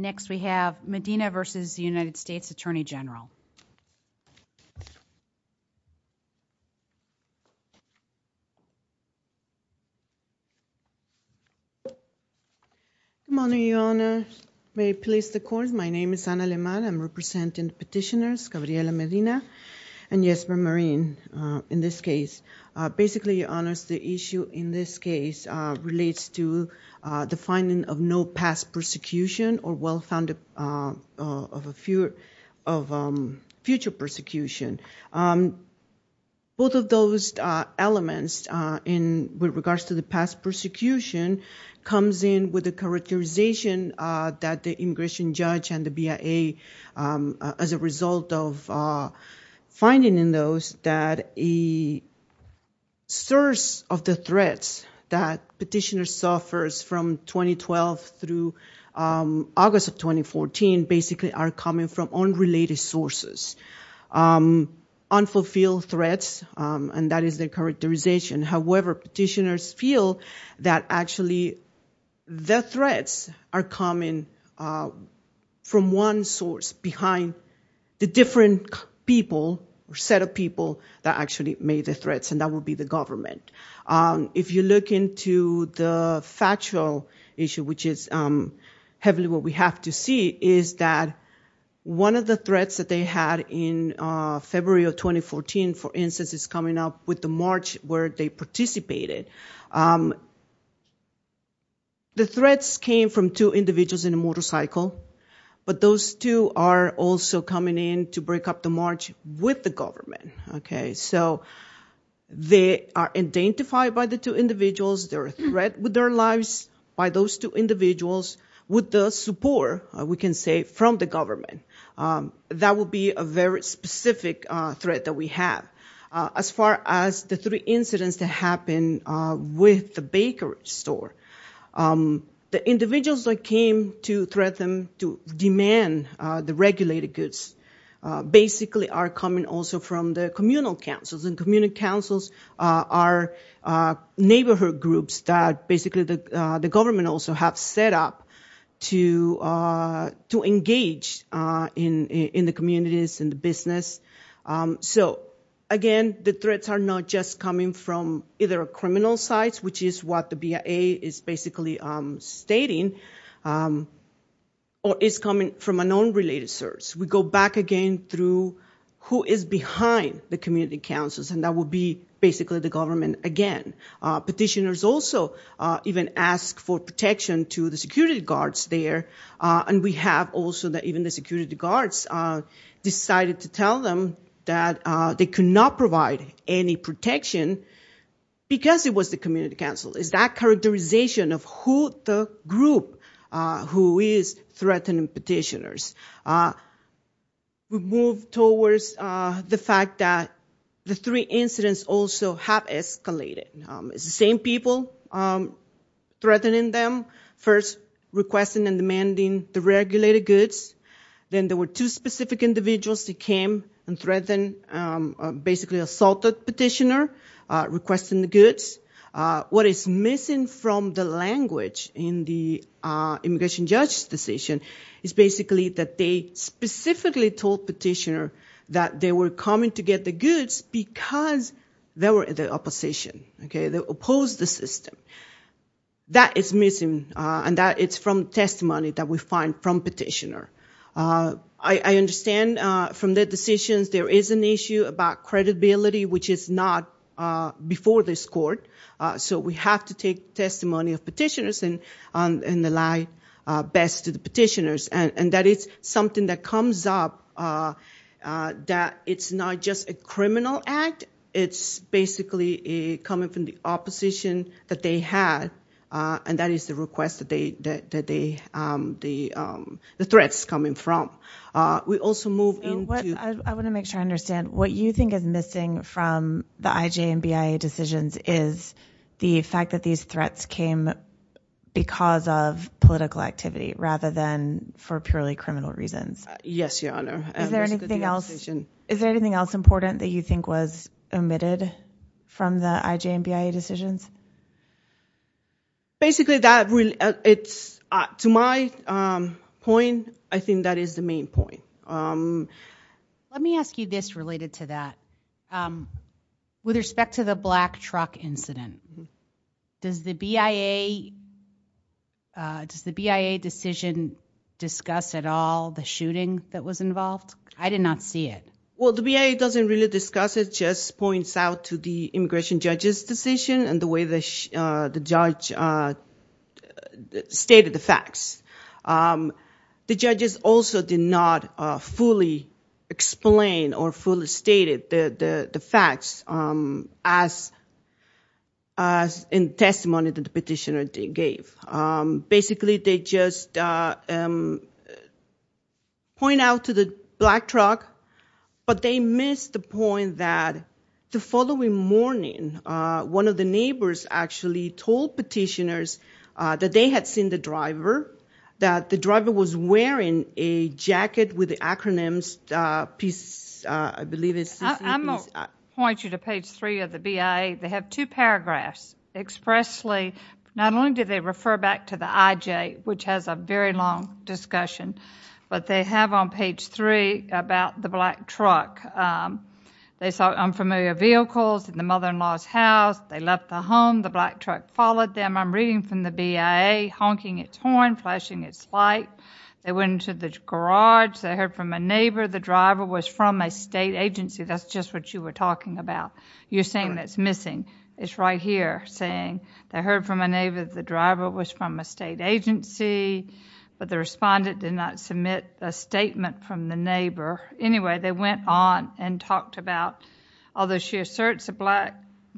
Good morning, Your Honor. May it please the Court, my name is Ana Lemar. I'm representing the petitioners, Gabriela Medina and Jesper Marin, in this case. Basically, Your Honor, the issue in this case relates to the finding of no past persecution or well found of future persecution. Both of those elements with regards to the past persecution comes in with the characterization that the immigration judge and the BIA, as a result of finding in those that a source of the threats that petitioners suffer from 2012 through August of 2014, basically are coming from unrelated sources. Unfulfilled threats, and that is their characterization. However, petitioners feel that actually the threats are coming from one source behind the different people or set of people that actually made the threats, and that would be the government. If you look into the factual issue, which is heavily what we have to see, is that one of the threats that they had in February of 2014, for instance, is coming up with the march where they participated. The threats came from two individuals in a coming in to break up the march with the government. They are identified by the two individuals. They're a threat with their lives by those two individuals, with the support, we can say, from the government. That would be a very specific threat that we have. As far as the three incidents that happened with the bakery store, the individuals that came to threaten, to demand the regulated goods, basically are coming also from the communal councils. Community councils are neighborhood groups that basically the government also have set up to engage in the communities and the business. Again, the threats are not just coming from either a criminal site, which is what the BIA is basically stating, or is coming from a non-related source. We go back again through who is behind the community councils, and that would be basically the government again. Petitioners also even ask for protection to the security guards there, and we have also that even the security guards decided to tell them that they could not provide any protection because it was the community council. It's that characterization of who the group who is threatening petitioners. We move towards the fact that the three incidents also have escalated. It's the same people threatening them, first requesting and demanding the regulated goods. Then there were two specific individuals that came and threatened, basically assaulted petitioner, requesting the goods. What is missing from the language in the immigration judge's decision is basically that they specifically told petitioner that they were coming to get the goods because they support the opposition. They oppose the system. That is missing, and that is from testimony that we find from petitioner. I understand from the decisions there is an issue about credibility which is not before this court, so we have to take testimony of petitioners and rely best to the petitioners. That is something that comes up that it's not just a criminal act. It's basically coming from the opposition that they had, and that is the request that they, the threats coming from. We also move into- I want to make sure I understand. What you think is missing from the IJ and BIA decisions is the fact that these threats came because of political activity rather than for purely criminal reasons. Yes, Your Honor. Is there anything else important that you think was omitted from the IJ and BIA decisions? Basically that, to my point, I think that is the main point. Let me ask you this related to that. With respect to the black truck incident, does the BIA decision discuss at all the shooting that was involved? I did not see it. Well, the BIA doesn't really discuss it. It just points out to the immigration judge's decision and the way the judge stated the facts. The judges also did not fully explain or fully state the facts in testimony that the petitioner gave. Basically, they just point out to the black truck, but they missed the point that the following morning, one of the neighbors actually told petitioners that they had seen the driver, that the driver was wearing a jacket with the acronyms, I believe it's... I'm going to point you to page three of the BIA. They have two paragraphs expressly. Not only do they refer back to the IJ, which has a very long discussion, but they have on page three about the black truck. They saw unfamiliar vehicles in the mother-in-law's house. They left the home. The black truck followed them. I'm reading from the BIA, honking its horn, flashing its light. They went into the garage. They heard from a neighbor the driver was from a state agency. That's just what you were talking about. You're saying that's missing. It's right here, saying they heard from a neighbor the driver was from a state agency, but the respondent did not submit a statement from the neighbor. Anyway, they went on and talked about... Although she asserts the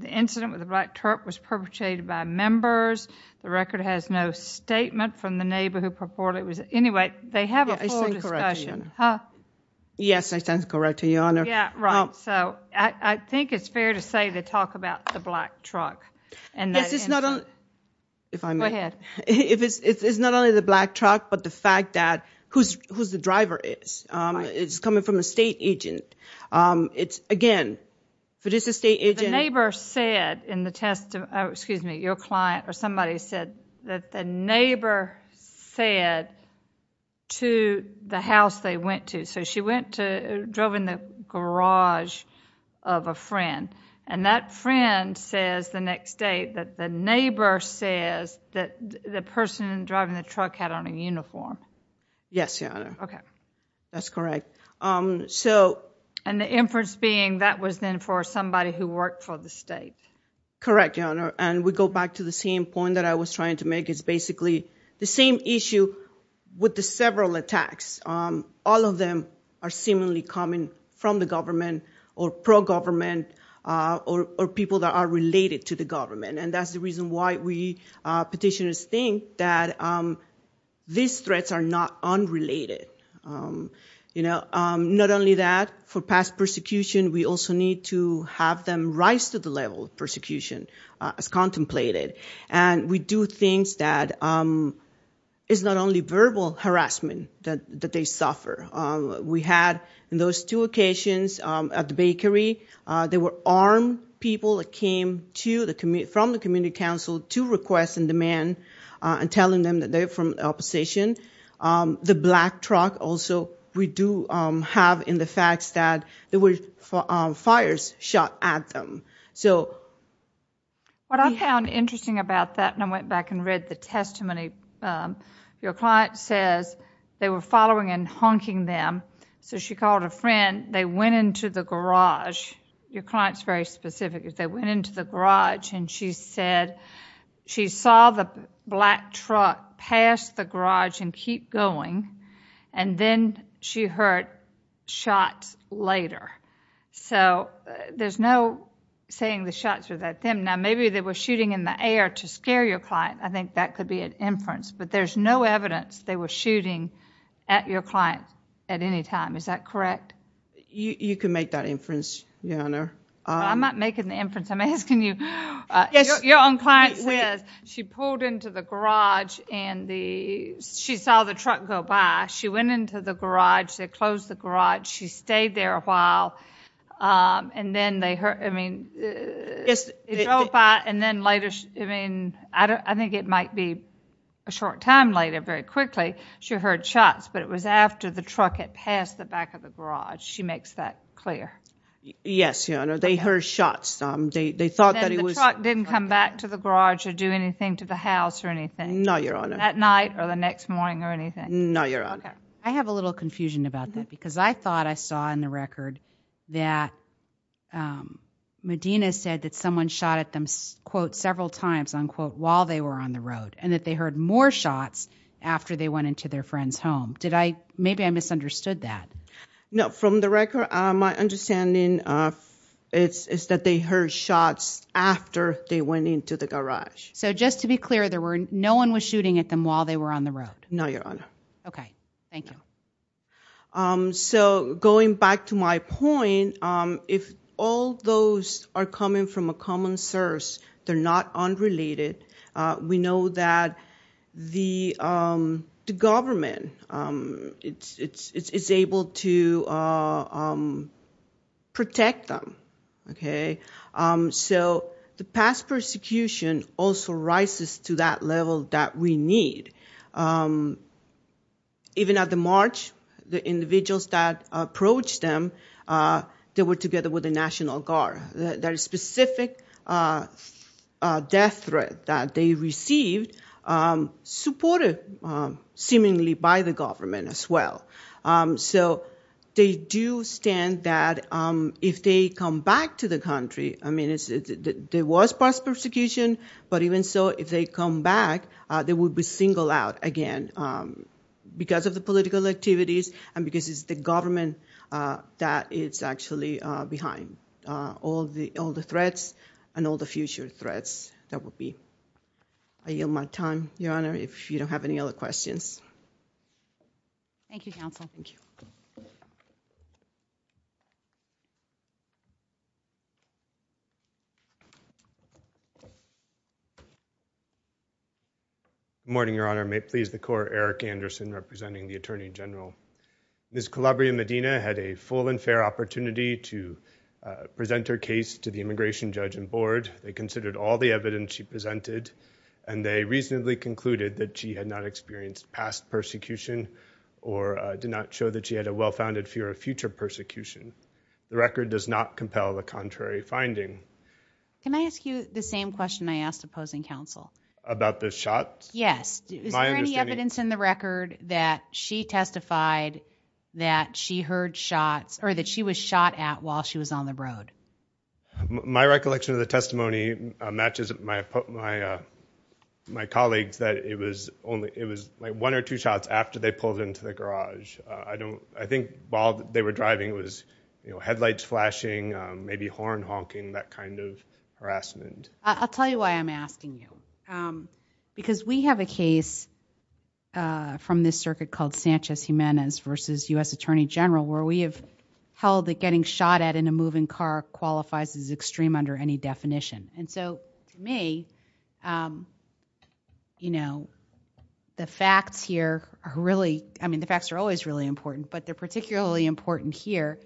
incident with the black truck was perpetrated by members, the record has no statement from the neighbor who purported it was... Anyway, they have a full discussion. Yes, I stand corrected, Your Honor. Huh? Yes, I stand corrected, Your Honor. Yeah, right. So, I think it's fair to say they talk about the black truck and that... This is not only... If I may... Go ahead. It's not only the black truck, but the fact that who's the driver is. It's coming from a state agent. It's, again, if it is a state agent... The neighbor said in the testimony... Excuse me. Your client or somebody said that the neighbor said to the house they went to... So, she went to... drove in the garage of a friend. That friend says the next day that the neighbor says that the person driving the truck had on a uniform. Yes, Your Honor. Okay. That's correct. So... And the inference being that was then for somebody who worked for the state. Correct, Your Honor. And we go back to the same point that I was trying to make. It's basically the same issue with the several attacks. All of them are seemingly coming from the government or pro-government or people that are related to the government. And that's the reason why we petitioners think that these threats are not unrelated. You know, not only that, for past persecution, we also need to have them rise to the level of persecution as contemplated. And we do things that is not only verbal harassment that they suffer. We had, in those two occasions at the bakery, there were armed people that came to the... from the community council to request and demand and telling them that they're from the opposition. The black truck also, we do have in the facts that there were fires shot at them. So... What I found interesting about that, and I went back and read the testimony, your client says they were following and honking them. So she called a friend. They went into the garage. Your client's very specific. They went into the garage and she said she saw the black truck pass the garage and keep going. And then she heard shots later. So there's no saying the shots were at them. Now, maybe they were shooting in the air to scare your client. I think that could be an inference. But there's no evidence they were shooting at your client at any time. Is that correct? You can make that inference, Your Honor. I'm not making the inference. I'm asking you... She pulled into the garage and the... she saw the truck go by. She went into the garage. They closed the garage. She stayed there a while. And then they heard... I mean... Yes. They drove by and then later... I mean, I think it might be a short time later, very quickly, she heard shots. But it was after the truck had passed the back of the garage. She makes that clear. Yes, Your Honor. They heard shots. They thought that it was... The truck didn't come back to the garage or do anything to the house or anything? No, Your Honor. At night or the next morning or anything? No, Your Honor. Okay. I have a little confusion about that because I thought I saw in the record that Medina said that someone shot at them, quote, several times, unquote, while they were on the road. And that they heard more shots after they went into their friend's home. Did I... maybe I misunderstood that. No. From the record, my understanding is that they heard shots after they went into the garage. So just to be clear, there were... no one was shooting at them while they were on the road? No, Your Honor. Okay. Thank you. So going back to my point, if all those are coming from a common source, they're not unrelated. We know that the government is able to protect them. So the past persecution also rises to that level that we need. Even at the march, the individuals that approached them, they were together with the National Guard. That specific death threat that they received, supported seemingly by the government as well. So they do stand that if they come back to the country... I mean, there was past persecution, but even so, if they come back, they would be singled out again because of the political activities and because it's the government that is actually behind all the threats and all the future threats that will be. I yield my time, Your Honor, if you don't have any other questions. Thank you, Counsel. Thank you. Good morning, Your Honor. May it please the Court, Eric Anderson representing the Attorney General. Ms. Calabria-Medina had a full and fair opportunity to present her case to the immigration judge and board. They considered all the evidence she presented, and they reasonably concluded that she had not experienced past persecution or did not show that she had a well-founded fear of future persecution. The record does not compel the contrary finding. Can I ask you the same question I asked opposing counsel? About the shots? Yes. Is there any evidence in the record that she testified that she heard shots or that she was shot at while she was on the road? My recollection of the testimony matches my colleagues that it was only... it was like one or two shots after they pulled into the garage. I don't... I think while they were driving it was, you know, headlights flashing, maybe horn honking, that kind of harassment. I'll tell you why I'm asking you. Because we have a case from this circuit called Sanchez-Jimenez versus U.S. Attorney General where we have held that getting shot at in a moving car qualifies as extreme under any definition. And so, to me, you know, the facts here are really... I mean, the facts are always really important, but they're particularly important here.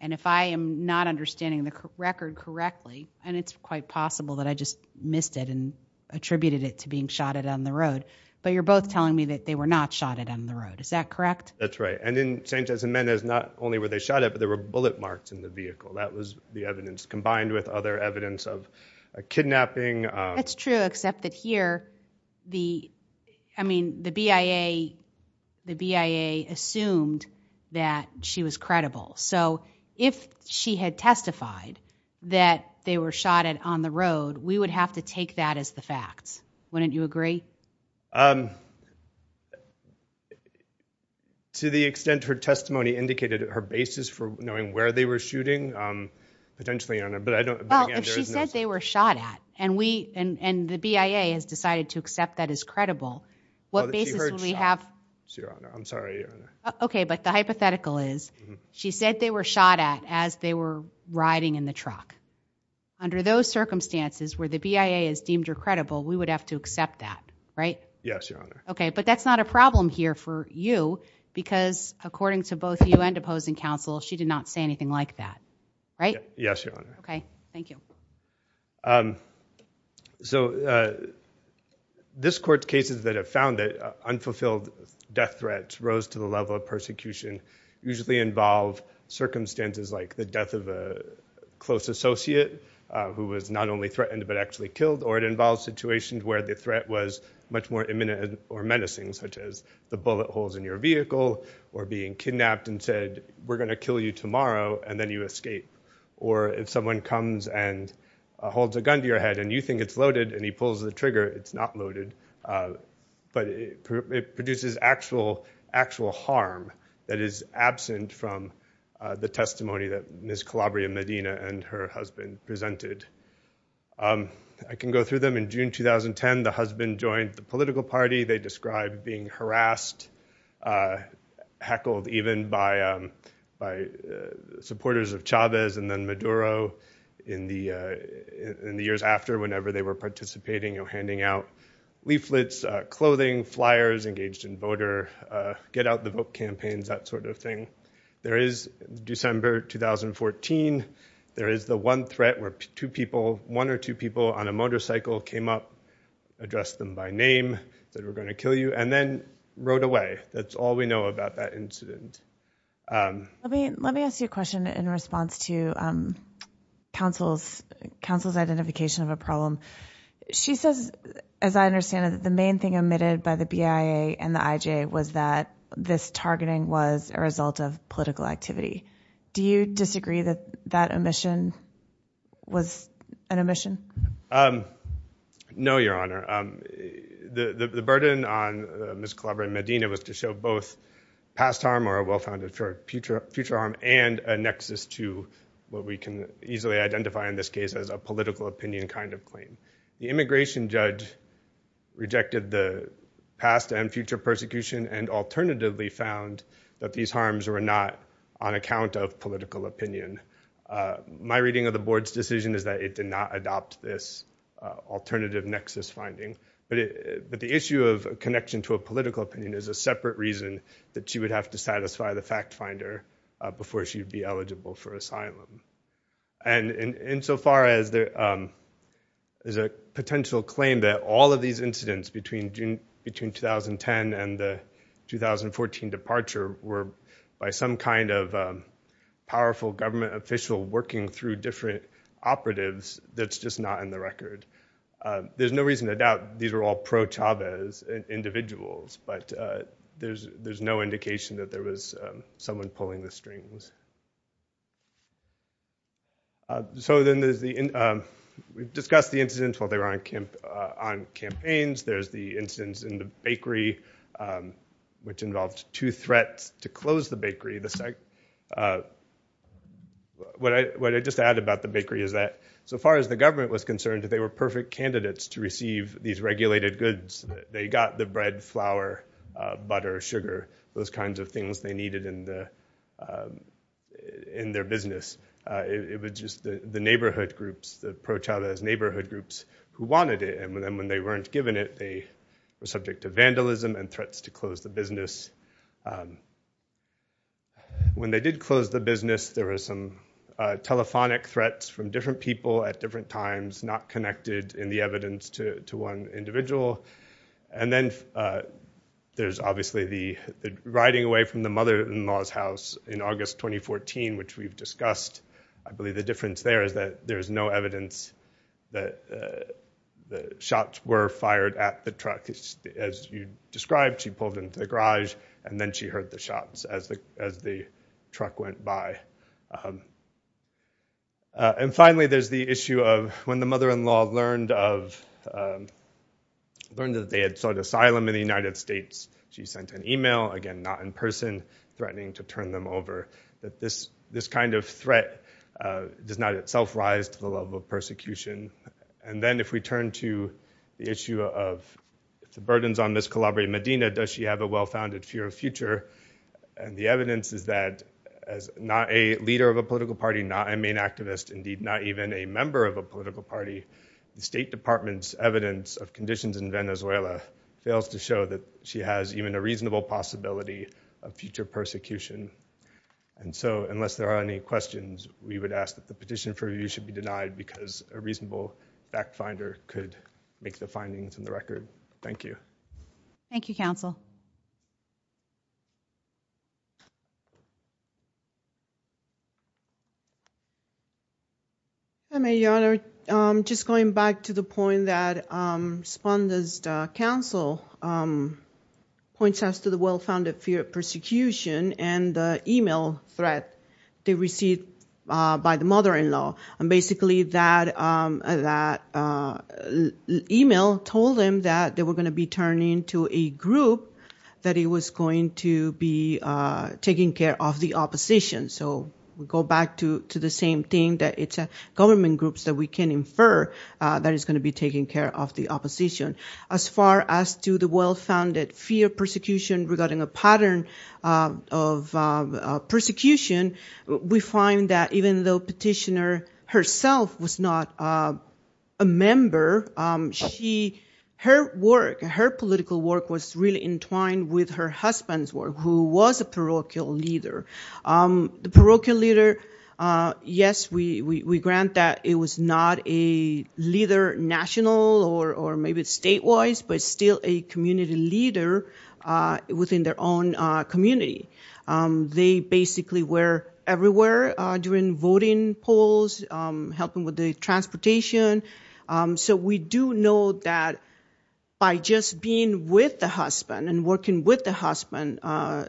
And if I am not understanding the record correctly, and it's quite possible that I just missed it and attributed it to being shot at on the road, but you're both telling me that they were not shot at on the road. Is that correct? That's right. And in Sanchez-Jimenez, not only were they shot at, but there were bullet marks in the vehicle. That was the evidence, combined with other evidence of a kidnapping. That's true, except that here, the BIA assumed that she was credible. So, if she had testified that they were shot at on the road, we would have to take that as the facts. Wouldn't you agree? To the extent her testimony indicated her basis for knowing where they were shooting, potentially, but I don't... And the BIA has decided to accept that as credible. What basis would we have... She heard shot, Your Honor. I'm sorry, Your Honor. Okay, but the hypothetical is, she said they were shot at as they were riding in the truck. Under those circumstances, where the BIA is deemed her credible, we would have to accept that, right? Yes, Your Honor. Okay, but that's not a problem here for you, because according to both you and opposing counsel, she did not say anything like that, right? Yes, Your Honor. Okay, thank you. So, this court's cases that have found that unfulfilled death threats rose to the level of persecution usually involve circumstances like the death of a close associate, who was not only threatened but actually killed, or it involves situations where the threat was much more imminent or menacing, such as the bullet holes in your vehicle, or being kidnapped and said, we're going to kill you tomorrow, and then you escape, or if someone comes and holds a gun to your head and you think it's loaded and he pulls the trigger, it's not loaded, but it produces actual harm that is absent from the testimony that Ms. Calabria-Medina and her husband presented. I can go through them. In June 2010, the husband joined the political party. They described being harassed, heckled even by supporters of Chavez and then Maduro in the years after, whenever they were participating or handing out leaflets, clothing, flyers, engaged in voter get-out-the-vote campaigns, that sort of thing. There is December 2014, there is the one threat where one or two people on a motorcycle came up, addressed them by name, said, we're going to kill you, and then that's all we know about that incident. Let me ask you a question in response to counsel's identification of a problem. She says, as I understand it, the main thing omitted by the BIA and the IJ was that this targeting was a result of political activity. Do you disagree that that omission was an omission? No, Your Honor. The burden on Ms. Calabria-Medina was to show both past harm or a well-founded future harm and a nexus to what we can easily identify in this case as a political opinion kind of claim. The immigration judge rejected the past and future persecution and alternatively found that these harms were not on account of political opinion. My reading of the board's findings is that it did not adopt this alternative nexus finding, but the issue of connection to a political opinion is a separate reason that she would have to satisfy the fact finder before she would be eligible for asylum. Insofar as there is a potential claim that all of these incidents between 2010 and the 2014 departure were by some kind of powerful government official working through different operatives, that's just not in the record. There's no reason to doubt these were all pro-Chavez individuals, but there's no indication that there was someone pulling the strings. So then we've discussed the incidents while they were on campaigns. There's the incidents in the bakery, which involved two threats to close the bakery. What I just add about the bakery is that so far as the government was concerned, they were perfect candidates to receive these regulated goods. They got the bread, flour, butter, sugar, those kinds of things they needed in their business. It was just the neighborhood groups, the pro-Chavez neighborhood groups who wanted it, and when they weren't given it, they were subject to When they did close the business, there were some telephonic threats from different people at different times, not connected in the evidence to one individual. And then there's obviously the riding away from the mother-in-law's house in August 2014, which we've discussed. I believe the difference there is that there's no evidence that the shots were fired at the truck. As you described, she pulled into the garage, and then she heard the shots as the truck went by. And finally, there's the issue of when the mother-in-law learned that they had sought asylum in the United States, she sent an email, again, not in person, threatening to turn them over, that this kind of threat does not itself rise to the level of persecution. And then if we turn to the issue of the burdens on Ms. Calabria Medina, does she have a well-founded fear of future? And the evidence is that as not a leader of a political party, not a main activist, indeed not even a member of a political party, the State Department's evidence of conditions in Venezuela fails to show that she has even a reasonable possibility of future persecution. And so unless there are any questions, we would ask that the petition for review should be denied, because a reasonable fact-finder could make the findings in the record. Thank you. Thank you, counsel. Hi, Mayor. Just going back to the point that Sponda's counsel points us to the well-founded fear of persecution and the email threat they received by the mother-in-law. And basically, that email told them that they were going to be turned into a group that was going to be taking care of the opposition. So we go back to the same thing, that it's government groups that we can infer that is going to be taking care of the opposition. As far as to the well-founded fear of persecution regarding a pattern of persecution, we find that even though petitioner herself was not a member, her work, her political work was really entwined with her husband's work, who was a parochial leader. The parochial leader, yes, we grant that it was not a leader national or maybe statewide, but still a community leader within their own community. They basically were everywhere during voting polls, helping with the transportation. So we do know that by just being with the husband and working with the husband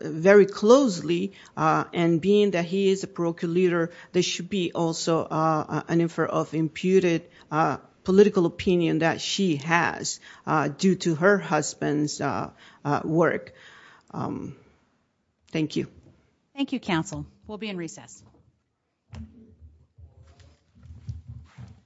very closely, and being that he is a parochial leader, there should be also an infer of imputed political opinion that she has due to her husband's work. Thank you. Thank you, counsel. We'll be in recess.